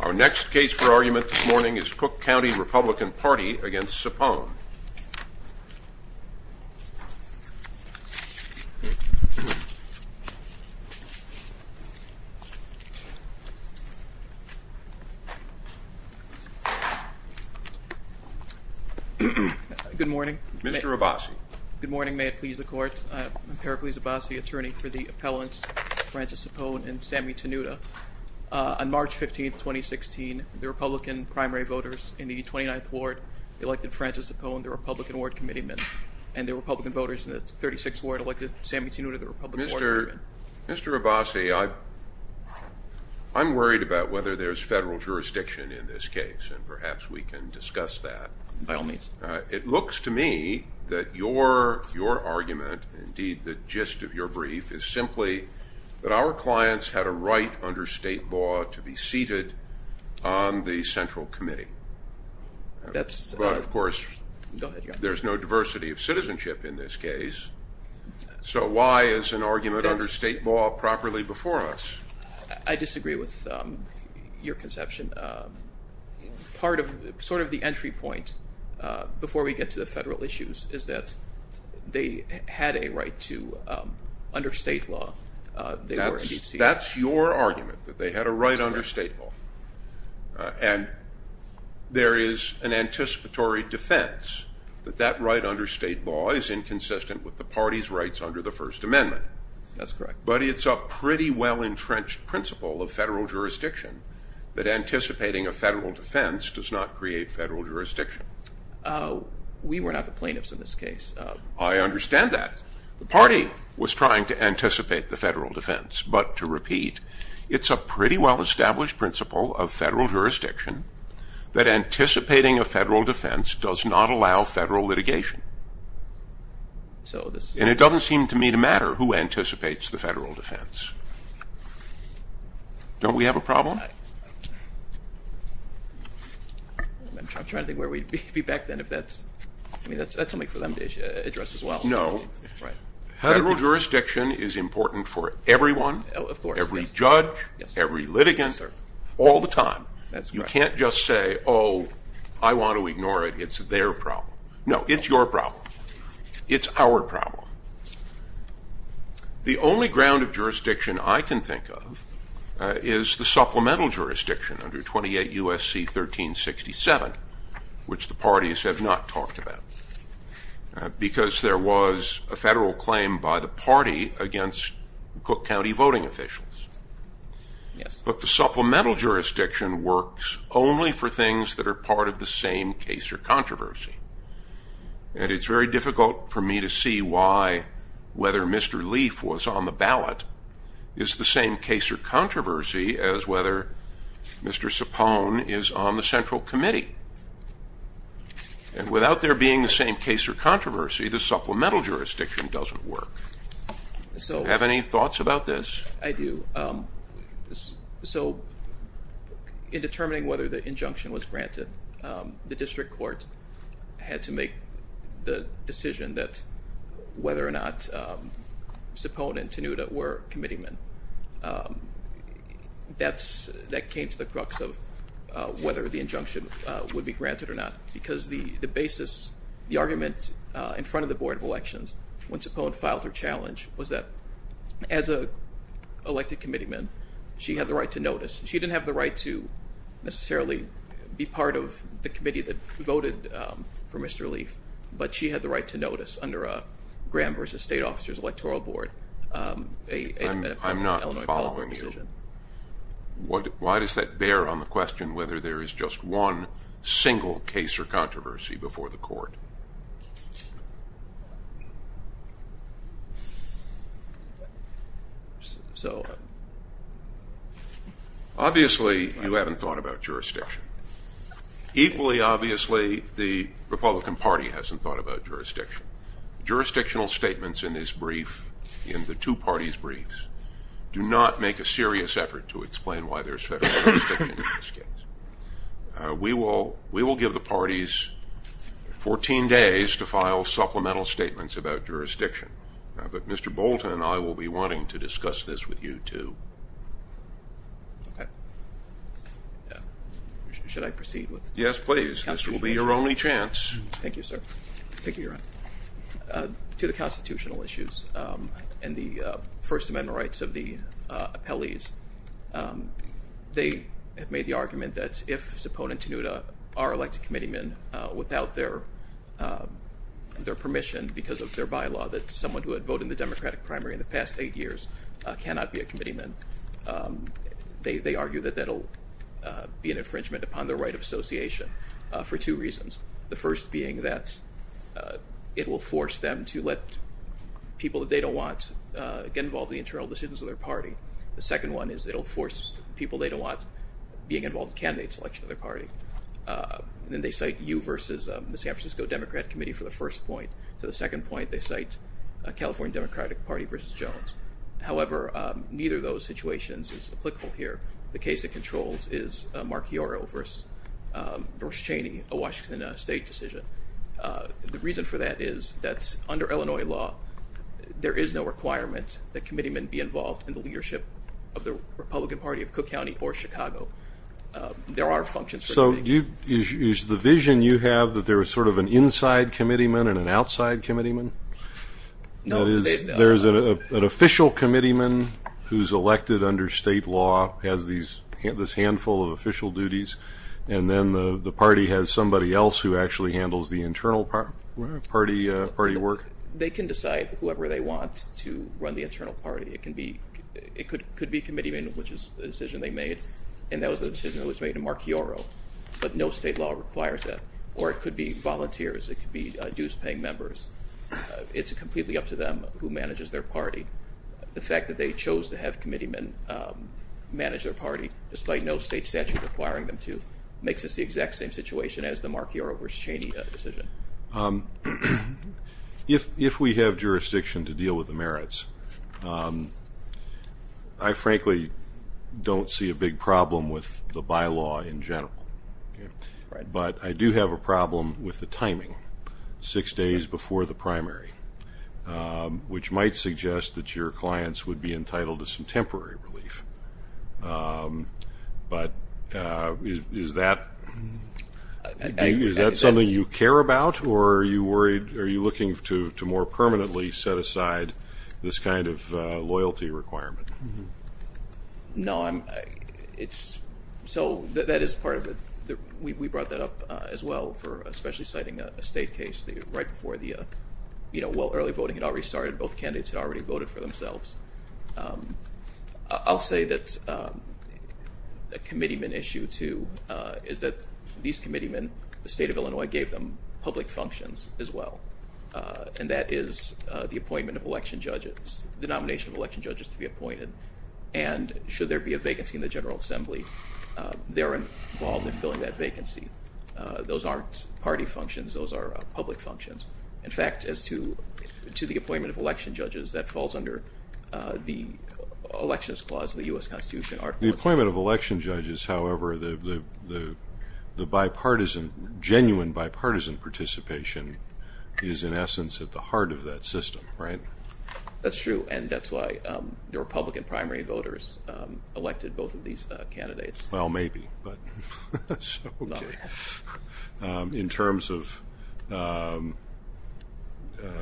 Our next case for argument this morning is Cook County Republican Party against Sapone. Good morning. Mr. Abbasi. Good morning, may it please the court. I'm Pericles Abbasi, attorney for the appellants Frances Sapone and Sammy Tenuta. On March 15, 2016, the Republican primary voters in the 29th Ward elected Frances Sapone, the Republican Ward Committeeman, and the Republican voters in the 36th Ward elected Sammy Tenuta, the Republican Ward Committeeman. Mr. Abbasi, I'm worried about whether there's federal jurisdiction in this case, and perhaps we can discuss that. By all means. It looks to me that your argument, indeed the gist of your brief, is simply that our clients had a right under state law to be seated on the Central Committee. But of course, there's no diversity of citizenship in this case, so why is an argument under state law properly before us? I disagree with your conception. Part of, sort of the entry point, before we get to the federal issues, is that they had a right to, under state law, they were in DC. That's your argument, that they had a right under state law. And there is an anticipatory defense that that right under state law is inconsistent with the party's rights under the First Amendment. That's correct. But it's a pretty well-entrenched principle of federal jurisdiction that anticipating a federal defense does not create federal jurisdiction. We were not the plaintiffs in this case. I understand that. The party was trying to anticipate the federal defense. But, to repeat, it's a pretty well-established principle of federal jurisdiction that anticipating a federal defense does not allow federal litigation. So, this- It doesn't seem to me to matter who anticipates the federal defense. Don't we have a problem? I'm trying to think where we'd be back then if that's- I mean, that's something for them to address as well. No. Right. Federal jurisdiction is important for everyone, every judge, every litigant, all the time. You can't just say, oh, I want to ignore it, it's their problem. No, it's your problem. It's our problem. The only ground of jurisdiction I can think of is the supplemental jurisdiction under 28 U.S.C. 1367, which the parties have not talked about, because there was a federal claim by the party against Cook County voting officials. Yes. But the supplemental jurisdiction works only for things that are part of the same case or controversy. And it's very difficult for me to see why whether Mr. Leaf was on the ballot is the same case or controversy as whether Mr. Sapone is on the Central Committee. And without there being the same case or controversy, the supplemental jurisdiction doesn't work. So- Do you have any thoughts about this? I do. So in determining whether the injunction was granted, the district court had to make the decision that whether or not Sapone and Tenuta were committeemen. That came to the crux of whether the injunction would be granted or not. Because the basis, the argument in front of the Board of Elections when Sapone filed her elected committeeman, she had the right to notice. She didn't have the right to necessarily be part of the committee that voted for Mr. Leaf, but she had the right to notice under a Graham v. State Officers Electoral Board, a- I'm not following you. Why does that bear on the question whether there is just one single case or controversy before the court? So- Obviously you haven't thought about jurisdiction. Equally obviously the Republican Party hasn't thought about jurisdiction. Jurisdictional statements in this brief, in the two parties' briefs, do not make a serious effort to explain why there's federal jurisdiction in this case. We will give the parties 14 days to file supplemental statements about jurisdiction. But Mr. Bolton and I will be wanting to discuss this with you, too. Okay, should I proceed with- Yes, please. This will be your only chance. Thank you, sir. Thank you, Your Honor. To the constitutional issues and the First Amendment rights of the appellees, they have made the argument that if Zipone and Tanuta are elected committeemen without their permission because of their bylaw that someone who had voted in the Democratic primary in the past eight years cannot be a committeeman, they argue that that'll be an infringement upon their right of association for two reasons. The first being that it will force them to let people that they don't want get involved in the internal decisions of their party. The second one is it'll force people they don't want being involved in candidate selection of their party. And then they cite you versus the San Francisco Democrat Committee for the first point. To the second point, they cite a California Democratic Party versus Jones. However, neither of those situations is applicable here. The case that controls is Mark Iorio versus Doris Cheney, a Washington State decision. The reason for that is that under Illinois law, there is no requirement that committeemen be involved in the leadership of the Republican Party of Cook County or Chicago. There are functions for committeemen. So is the vision you have that there is sort of an inside committeeman and an outside committeeman? No. That is, there's an official committeeman who's elected under state law, has this handful of official duties, and then the party has somebody else who actually handles the internal party work? They can decide whoever they want to run the internal party. It can be, it could be committeemen, which is the decision they made, and that was the decision that was made to Mark Iorio, but no state law requires that. Or it could be volunteers. It could be dues-paying members. It's completely up to them who manages their party. The fact that they chose to have committeemen manage their party, despite no state statute requiring them to, makes this the exact same situation as the Mark Iorio versus Cheney decision. If we have jurisdiction to deal with the merits, I frankly don't see a big problem with the bylaw in general. But I do have a problem with the timing, six days before the primary, which might suggest that your clients would be entitled to some temporary relief. But is that something you care about, or are you worried, are you looking to more permanently set aside this kind of loyalty requirement? No, I'm, it's, so that is part of it. We brought that up as well, for especially citing a state case, right before the, you know, well, early voting had already started. Both candidates had already voted for themselves. I'll say that a committeeman issue, too, is that these committeemen, the state of Illinois gave them public functions as well, and that is the appointment of election judges, the nomination of election judges to be appointed, and should there be a vacancy in the General Assembly, they're involved in filling that vacancy. Those aren't party functions, those are public functions. In fact, as to the appointment of election judges, that falls under the elections clause of the U.S. Constitution. The appointment of election judges, however, the bipartisan, genuine bipartisan participation is in essence at the heart of that system, right? That's true, and that's why the Republican primary voters elected both of these candidates. Well, maybe, but that's okay. In terms of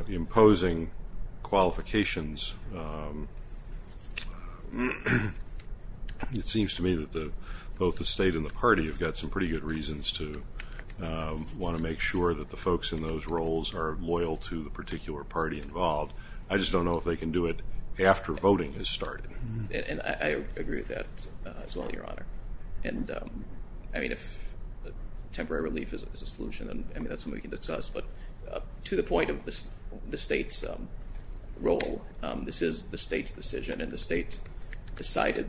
imposing qualifications, it seems to me that both the state and the party have got some pretty good reasons to want to make sure that the folks in those roles are loyal to the particular party involved. I just don't know if they can do it after voting has started. And I agree with that as well, Your Honor. And I mean, if temporary relief is a solution, I mean, that's something we can discuss, but to the point of the state's role, this is the state's decision, and the state decided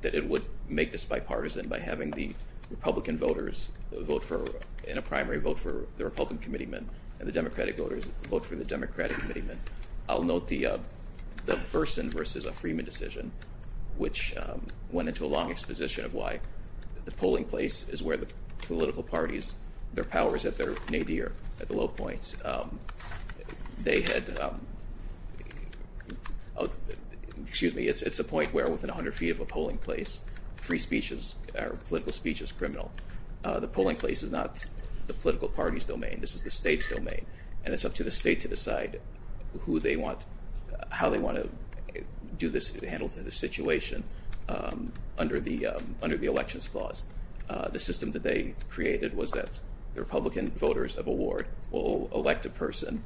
that it would make this bipartisan by having the Republican voters vote for, in a primary, vote for the Republican committeemen, and the Democratic voters vote for the Democratic committeemen. I'll note the Berson versus Freeman decision, which went into a long exposition of why the polling place is where the political parties, their power is at their nadir at the low points. They had, excuse me, it's a point where within 100 feet of a polling place, free speech is, or political speech is criminal. The polling place is not the political party's domain, this is the state's domain, and it's up to the state to decide who they want, how they want to do this, to handle the situation under the elections clause. The system that they created was that the Republican voters of a ward will elect a person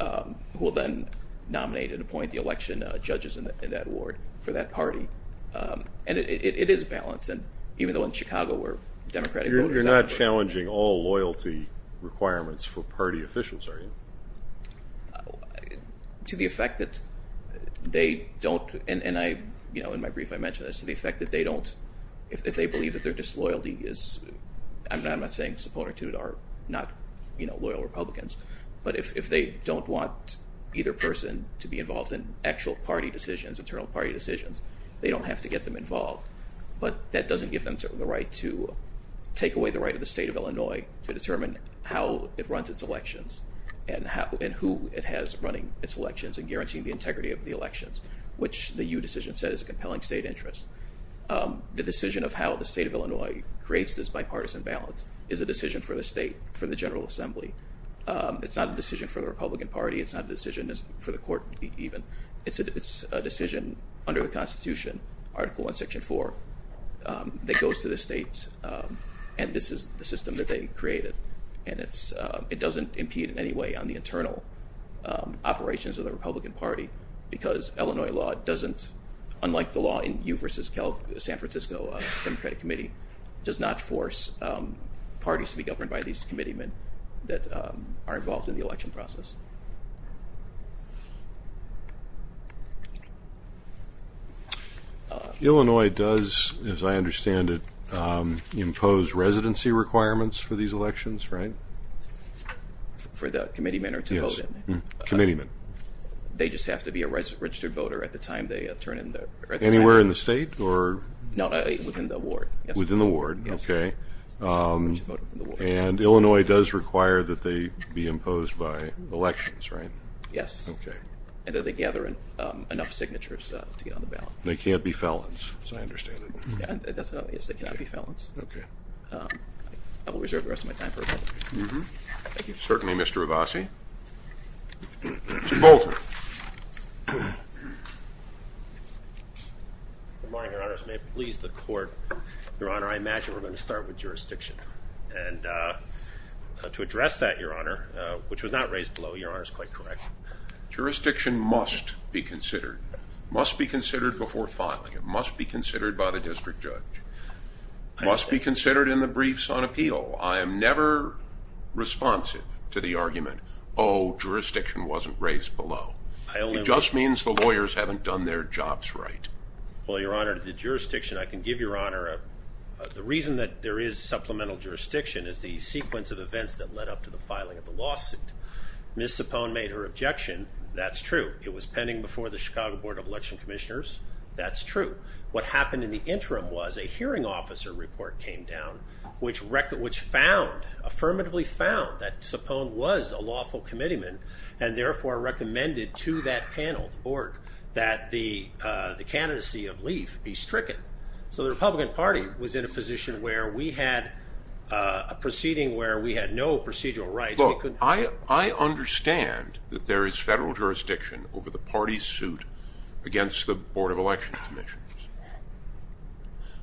who will then nominate and appoint the election judges in that ward for that party. And it is balanced, and even though in Chicago where Democratic voters... You're not challenging all loyalty requirements for party officials, are you? To the effect that they don't, and I, you know, in my brief I mentioned this, to the effect that they don't, if they believe that their disloyalty is, and I'm not saying supporter to it are not, you know, loyal Republicans, but if they don't want either person to be involved in actual party decisions, internal party decisions, they don't have to get them take away the right of the state of Illinois to determine how it runs its elections and who it has running its elections and guaranteeing the integrity of the elections, which the U decision said is a compelling state interest. The decision of how the state of Illinois creates this bipartisan balance is a decision for the state, for the General Assembly. It's not a decision for the Republican Party, it's not a decision for the court even, it's a decision under the Constitution, Article 1, Section 4, that goes to the state, and this is the system that they created, and it's... It doesn't impede in any way on the internal operations of the Republican Party because Illinois law doesn't, unlike the law in U v. San Francisco Democratic Committee, does not force parties to be governed by these committeemen that are involved in the election process. Illinois does, as I understand it, impose residency requirements for these elections, right? For the committeemen or to vote in. Committeemen. They just have to be a registered voter at the time they turn in the... Anywhere in the state or... No, within the ward. Within the ward, okay. Yes. Okay. And then they gather enough signatures to get on the ballot. They can't be felons, as I understand it. Yes, they cannot be felons. Okay. I will reserve the rest of my time for a moment. Mm-hmm. Thank you. Certainly, Mr. Rivasi. Mr. Bolton. Good morning, Your Honors. May it please the court, Your Honor, I imagine we're going to start with jurisdiction, and to address that, Your Honor, which was not raised below, Your Honor is quite correct. Jurisdiction must be considered. It must be considered before filing. It must be considered by the district judge. It must be considered in the briefs on appeal. I am never responsive to the argument, oh, jurisdiction wasn't raised below. It just means the lawyers haven't done their jobs right. Well, Your Honor, the jurisdiction, I can give Your Honor, the reason that there is no supplemental jurisdiction is the sequence of events that led up to the filing of the lawsuit. Ms. Cipone made her objection. That's true. It was pending before the Chicago Board of Election Commissioners. That's true. What happened in the interim was a hearing officer report came down, which found, affirmatively found, that Cipone was a lawful committeeman, and therefore recommended to that panel, the board, that the candidacy of Leif be stricken. So the Republican Party was in a position where we had a proceeding where we had no procedural rights. Look, I understand that there is federal jurisdiction over the party's suit against the Board of Election Commissioners.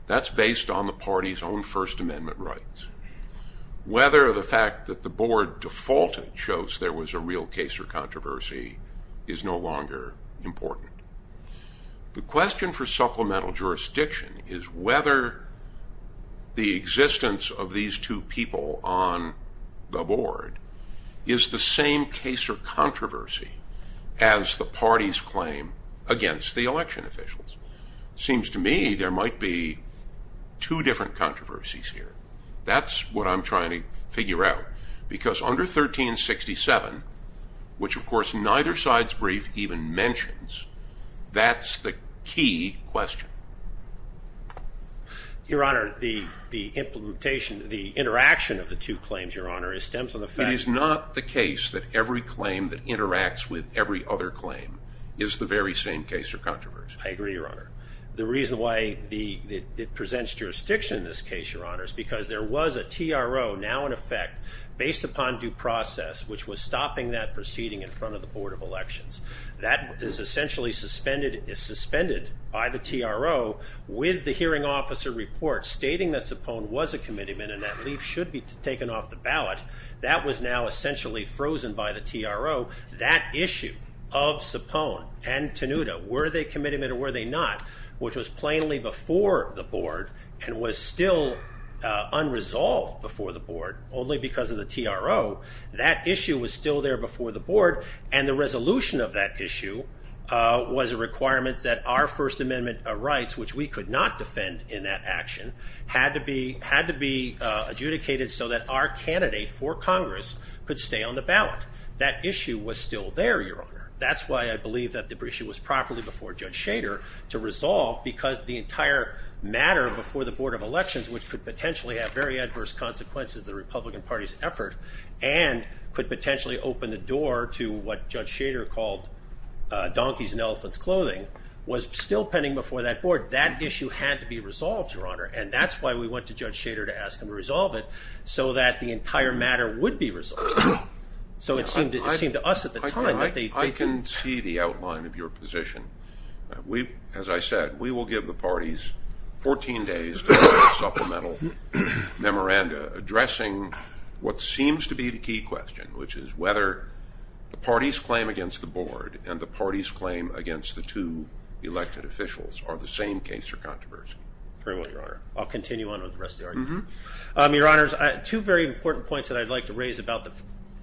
That's based on the party's own First Amendment rights. Whether the fact that the board defaulted shows there was a real case or controversy is no longer important. The question for supplemental jurisdiction is whether the existence of these two people on the board is the same case or controversy as the party's claim against the election officials. Seems to me there might be two different controversies here. That's what I'm trying to figure out. Because under 1367, which of course neither side's brief even mentions, that's the key question. Your Honor, the implementation, the interaction of the two claims, Your Honor, stems from the fact... It is not the case that every claim that interacts with every other claim is the very same case or controversy. I agree, Your Honor. The reason why it presents jurisdiction in this case, Your Honor, is because there was a TRO now in effect, based upon due process, which was stopping that proceeding in front of the Board of Elections. That is essentially suspended by the TRO with the hearing officer report stating that Cipone was a commitment and that leave should be taken off the ballot. That was now essentially frozen by the TRO. That issue of Cipone and Tanuta, were they a commitment or were they not, which was plainly before the Board and was still unresolved before the Board, only because of the TRO. That issue was still there before the Board and the resolution of that issue was a requirement that our First Amendment rights, which we could not defend in that action, had to be adjudicated so that our candidate for Congress could stay on the ballot. That issue was still there, Your Honor. That's why I believe that the issue was properly before Judge Schader to resolve because the entire matter before the Board of Elections, which could potentially have very adverse consequences to the Republican Party's effort and could potentially open the door to what Judge Schader called donkeys in elephant's clothing, was still pending before that Board. That issue had to be resolved, Your Honor, and that's why we went to Judge Schader to ask him to resolve it so that the entire matter would be resolved. So it seemed to us at the time that they... I can see the outline of your position. As I said, we will give the parties 14 days to write a supplemental memoranda addressing what seems to be the key question, which is whether the party's claim against the Board and the party's claim against the two elected officials are the same case or controversy. Very well, Your Honor. I'll continue on with the rest of the argument. Your Honors, two very important points that I'd like to raise about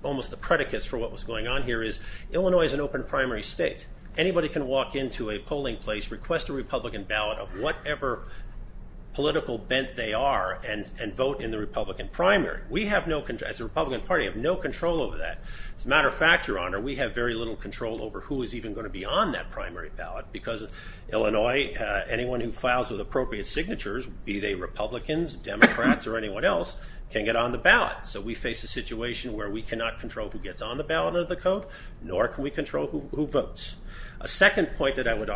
almost the predicates for what was going on here is Illinois is an open primary state. Anybody can walk into a polling place, request a Republican ballot of whatever political bent they are, and vote in the Republican primary. We have no... As a Republican Party, we have no control over that. As a matter of fact, Your Honor, we have very little control over who is even going to be on that primary ballot because Illinois, anyone who files with appropriate signatures, be it Democrats or anyone else, can get on the ballot. So we face a situation where we cannot control who gets on the ballot of the code, nor can we control who votes. A second point that I would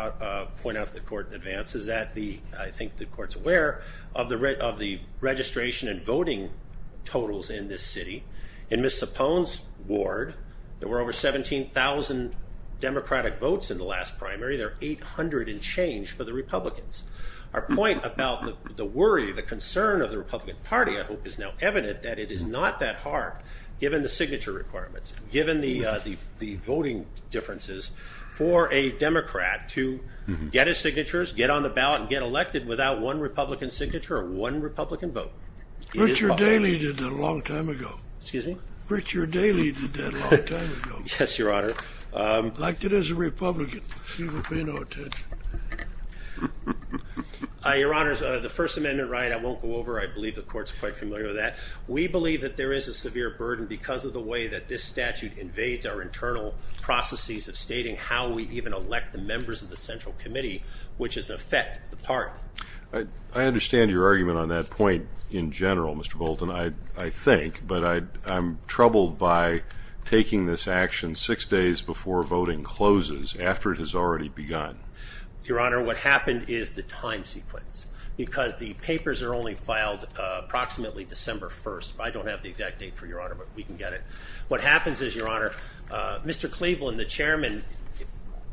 point out to the Court in advance is that the... I think the Court's aware of the registration and voting totals in this city. In Ms. Sapone's ward, there were over 17,000 Democratic votes in the last primary. There are 800 and change for the Republicans. Our point about the worry, the concern of the Republican Party, I hope, is now evident that it is not that hard, given the signature requirements, given the voting differences, for a Democrat to get his signatures, get on the ballot, and get elected without one Republican signature or one Republican vote. Richard Daly did that a long time ago. Excuse me? Richard Daly did that a long time ago. Yes, Your Honor. Liked it as a Republican. Your Honor, the First Amendment right, I won't go over. I believe the Court's quite familiar with that. We believe that there is a severe burden because of the way that this statute invades our internal processes of stating how we even elect the members of the Central Committee, which is an effect, the part. I understand your argument on that point in general, Mr. Bolton, I think, but I'm troubled by taking this action six days before voting closes, after it has already begun. Your Honor, what happened is the time sequence, because the papers are only filed approximately December 1st. I don't have the exact date for Your Honor, but we can get it. What happens is, Your Honor, Mr. Cleveland, the Chairman,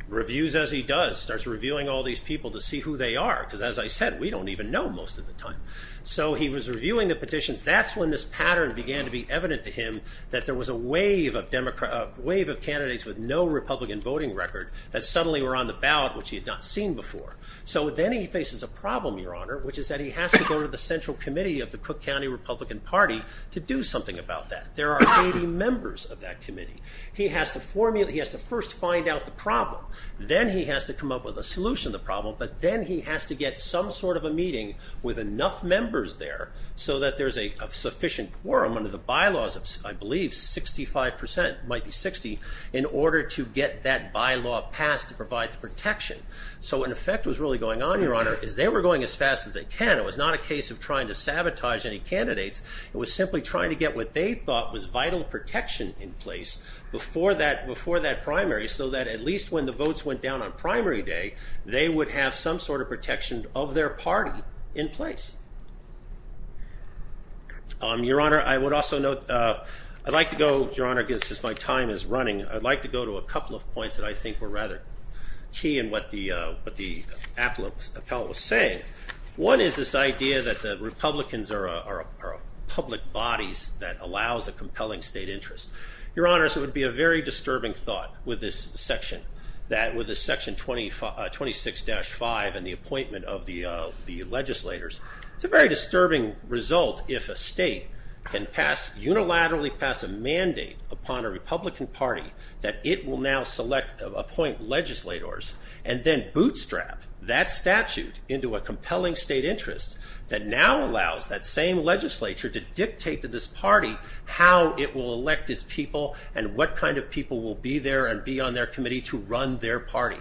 reviews as he does, starts reviewing all these people to see who they are, because as I said, we don't even know most of the time. So he was reviewing the petitions. That's when this pattern began to be evident to him that there was a wave of candidates with no Republican voting record that suddenly were on the ballot, which he had not seen before. So then he faces a problem, Your Honor, which is that he has to go to the Central Committee of the Cook County Republican Party to do something about that. There are 80 members of that committee. He has to first find out the problem. Then he has to come up with a solution to the problem, but then he has to get some sort of a meeting with enough members there so that there's a sufficient quorum under the bylaws of, I believe, 65 percent, might be 60, in order to get that bylaw passed to provide the protection. So what in effect was really going on, Your Honor, is they were going as fast as they can. It was not a case of trying to sabotage any candidates. It was simply trying to get what they thought was vital protection in place before that primary, so that at least when the votes went down on primary day, they would have some sort of protection of their party in place. Your Honor, I would also note, I'd like to go, Your Honor, since my time is running, I'd like to go to a couple of points that I think were rather key in what the appellate was saying. One is this idea that the Republicans are public bodies that allows a compelling state interest. Your Honors, it would be a very disturbing thought with this section, with this section 26-5 and the appointment of the legislators. It's a very disturbing result if a state can unilaterally pass a mandate upon a Republican party that it will now appoint legislators and then bootstrap that statute into a compelling state interest that now allows that same legislature to dictate to this party how it will elect its people and what kind of people will be there and be on their committee to run their party.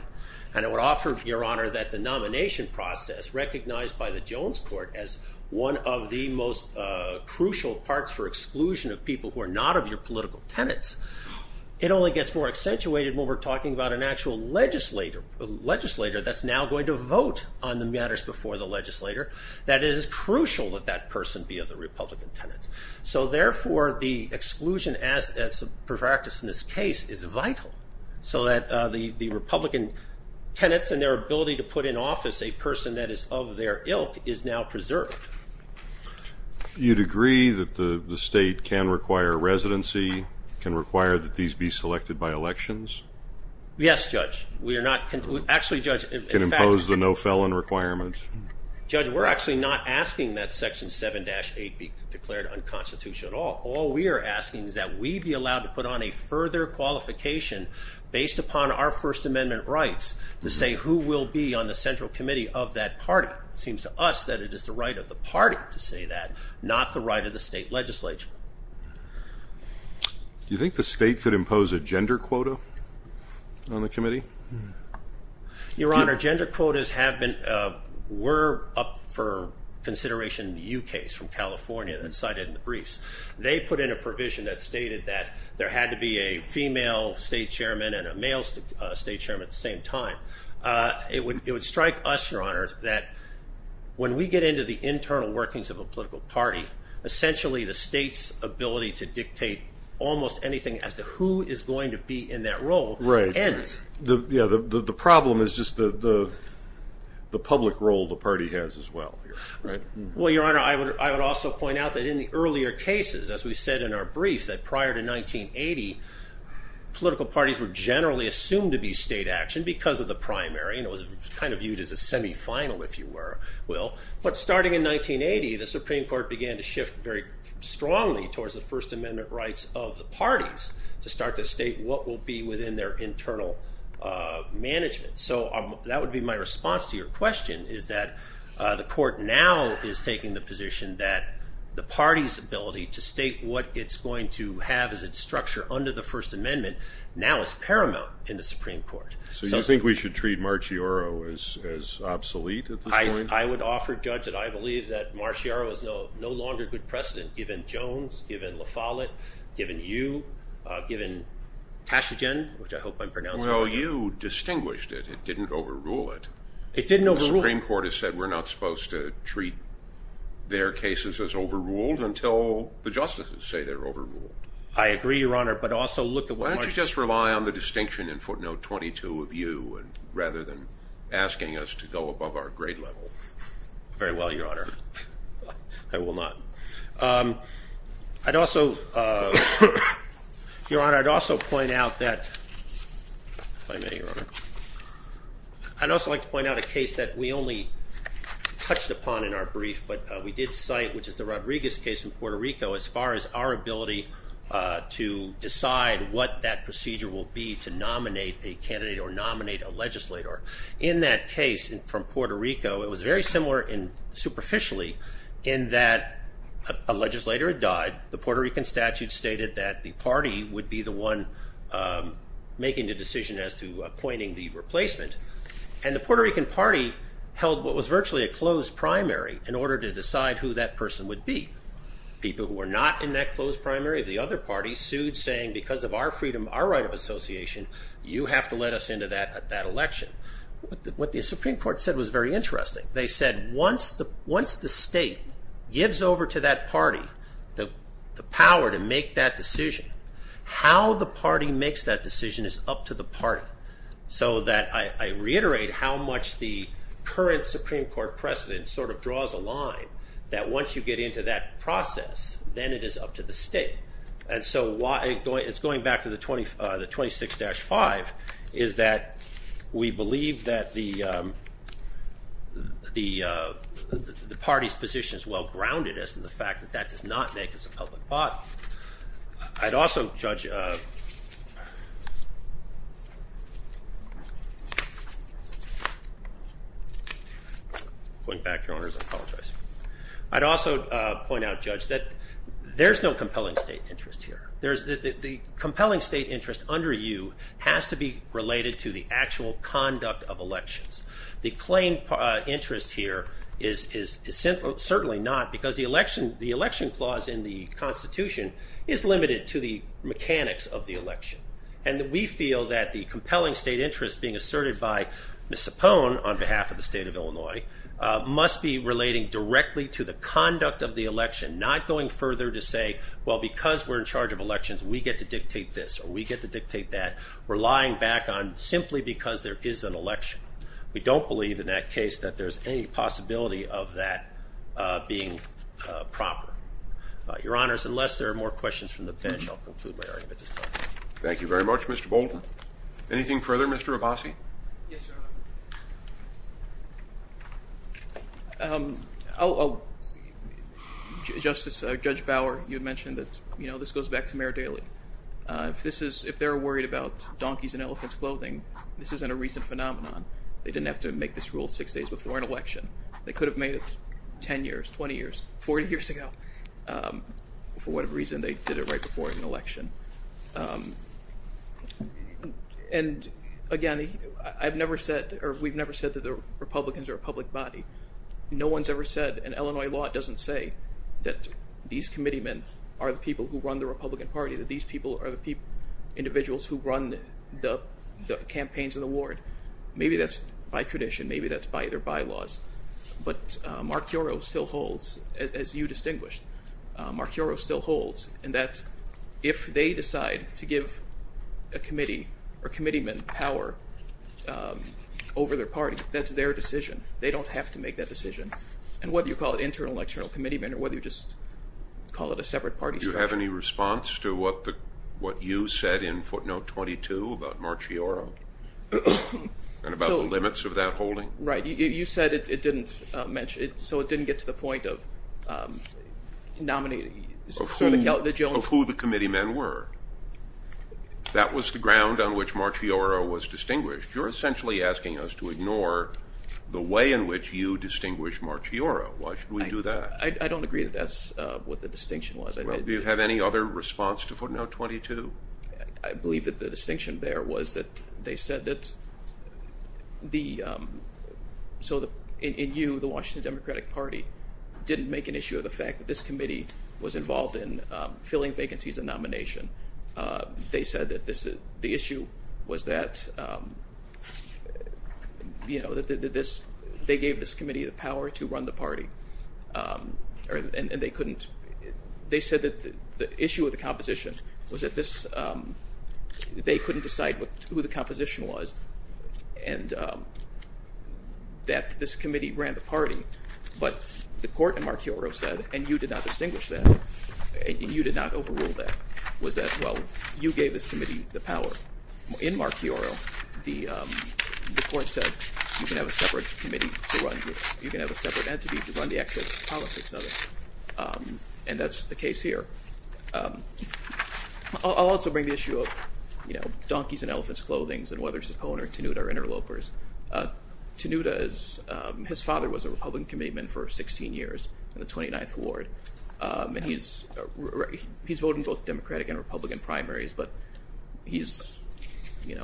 I would offer, Your Honor, that the nomination process, recognized by the Jones Court as one of the most crucial parts for exclusion of people who are not of your political tenants, it only gets more accentuated when we're talking about an actual legislator that's now going to vote on the matters before the legislator, that it is crucial that that person be of the Republican tenants. So, therefore, the exclusion as a practice in this case is vital so that the Republican tenants and their ability to put in office a person that is of their ilk is now preserved. You'd agree that the state can require residency, can require that these be selected by elections? Yes, Judge. We are not, actually, Judge. Can impose the no felon requirement? Judge, we're actually not asking that Section 7-8 be declared unconstitutional at all. All we are asking is that we be allowed to put on a further qualification based upon our First Amendment rights to say who will be on the central committee of that party. It seems to us that it is the right of the party to say that, not the right of the state legislature. Do you think the state could impose a gender quota on the committee? Your Honor, gender quotas have been, were up for consideration in the U.K.'s from California that cited in the briefs. They put in a provision that stated that there had to be a female state chairman and a male state chairman at the same time. It would strike us, Your Honor, that when we get into the internal workings of a political party, essentially the state's ability to dictate almost anything as to who is going to be in that role ends. The problem is just the public role the party has as well. Well, Your Honor, I would also point out that in the earlier cases, as we said in our briefs, that prior to 1980, political parties were generally assumed to be state action because of the primary. It was kind of viewed as a semifinal, if you will. But starting in 1980, the Supreme Court began to shift very strongly towards the First Amendment rights of the parties to start to state what will be within their internal management. So that would be my response to your question is that the court now is taking the position that the party's ability to state what it's going to have as its structure under the First Amendment now is paramount in the Supreme Court. So you think we should treat Marcioro as obsolete at this point? I would offer, Judge, that I believe that Marcioro is no longer good precedent given Jones, given La Follette, given you, given Tashigen, which I hope I'm pronouncing right. Well, you distinguished it. It didn't overrule it. It didn't overrule it. The Supreme Court has said we're not supposed to treat their cases as overruled until the justices say they're overruled. I agree, Your Honor, but also look at what Marci- Why don't you just rely on the distinction in footnote 22 of you rather than asking us to go above our grade level? Very well, Your Honor. I will not. I'd also, Your Honor, I'd also point out that, if I may, Your Honor, I'd also like to point out a case that we only touched upon in our brief, but we did cite, which is the Rodriguez case in Puerto Rico, as far as our ability to decide what that procedure will be to nominate a candidate or nominate a legislator. In that case from Puerto Rico, it was very similar superficially in that a legislator had died. The Puerto Rican statute stated that the party would be the one making the decision as to appointing the replacement, and the Puerto Rican party held what was virtually a closed primary in order to decide who that person would be. People who were not in that closed primary of the other party sued, saying, because of our freedom, our right of association, you have to let us into that election. What the Supreme Court said was very interesting. They said, once the state gives over to that party the power to make that decision, how the party makes that decision is up to the party. I reiterate how much the current Supreme Court precedent draws a line, that once you get into that process, then it is up to the state. It's going back to the 26-5, is that we believe that the party's position is well grounded as to the fact that that does not make us a public body. I'd also point out, Judge, that there's no compelling state interest here. The compelling state interest under you has to be related to the actual conduct of elections. The claimed interest here is certainly not, because the election clause in the Constitution is limited to the mechanics of the election. And we feel that the compelling state interest being asserted by Ms. Cipone, on behalf of the state of Illinois, must be relating directly to the conduct of the election, not going further to say, well, because we're in charge of elections, we get to dictate this, or we get to dictate that. We're lying back on simply because there is an election. We don't believe in that case that there's any possibility of that being proper. Your Honors, unless there are more questions from the bench, I'll conclude my argument at this time. Thank you very much, Mr. Bolton. Anything further, Mr. Abbasi? Yes, Your Honor. Oh, Justice, Judge Bauer, you mentioned that this goes back to Mayor Daley. If this is, if they're worried about donkeys in elephant's clothing, this isn't a recent phenomenon. They didn't have to make this rule six days before an election. They could have made it 10 years, 20 years, 40 years ago, for whatever reason they did it right before an election. And again, I've never said, or we've never said that the Republicans are a public body. No one's ever said, and Illinois law doesn't say, that these committeemen are the people who run the Republican Party, that these people are the individuals who run the campaigns in the ward. Maybe that's by tradition. Maybe that's by their bylaws. But Mark Yarrow still holds, as you distinguished, Mark Yarrow still holds, and that if they decide to give a committee or committeemen power over their party, that's their decision. They don't have to make that decision. And whether you call it internal electional committeemen or whether you just call it a committee, is there any response to what you said in footnote 22 about Mark Yarrow and about the limits of that holding? Right. You said it didn't mention it, so it didn't get to the point of nominating. Of who the committeemen were. That was the ground on which Mark Yarrow was distinguished. You're essentially asking us to ignore the way in which you distinguish Mark Yarrow. Why should we do that? I don't agree that that's what the distinction was. Well, do you have any other response to footnote 22? I believe that the distinction there was that they said that in you, the Washington Democratic Party, didn't make an issue of the fact that this committee was involved in filling vacancies and nomination. They said that the issue was that they gave this committee the power to run the party. And they couldn't. They said that the issue of the composition was that they couldn't decide who the composition was and that this committee ran the party. But the court in Mark Yarrow said, and you did not distinguish that, and you did not overrule that, was that, well, you gave this committee the power. In Mark Yarrow, the court said, you can have a separate committee to run. You can't run the actual politics of it. And that's the case here. I'll also bring the issue of donkeys in elephant's clothing and whether Sapone or Tanuta are interlopers. Tanuta, his father was a Republican committeeman for 16 years in the 29th Ward. And he's voting both Democratic and Republican primaries. But he's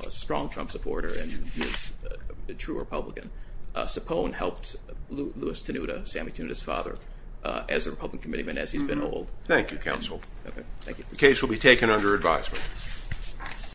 a strong Trump supporter, and he's a true Republican. Sapone helped Louis Tanuta, Sammy Tanuta's father, as a Republican committeeman as he's been old. Thank you, counsel. The case will be taken under advisement.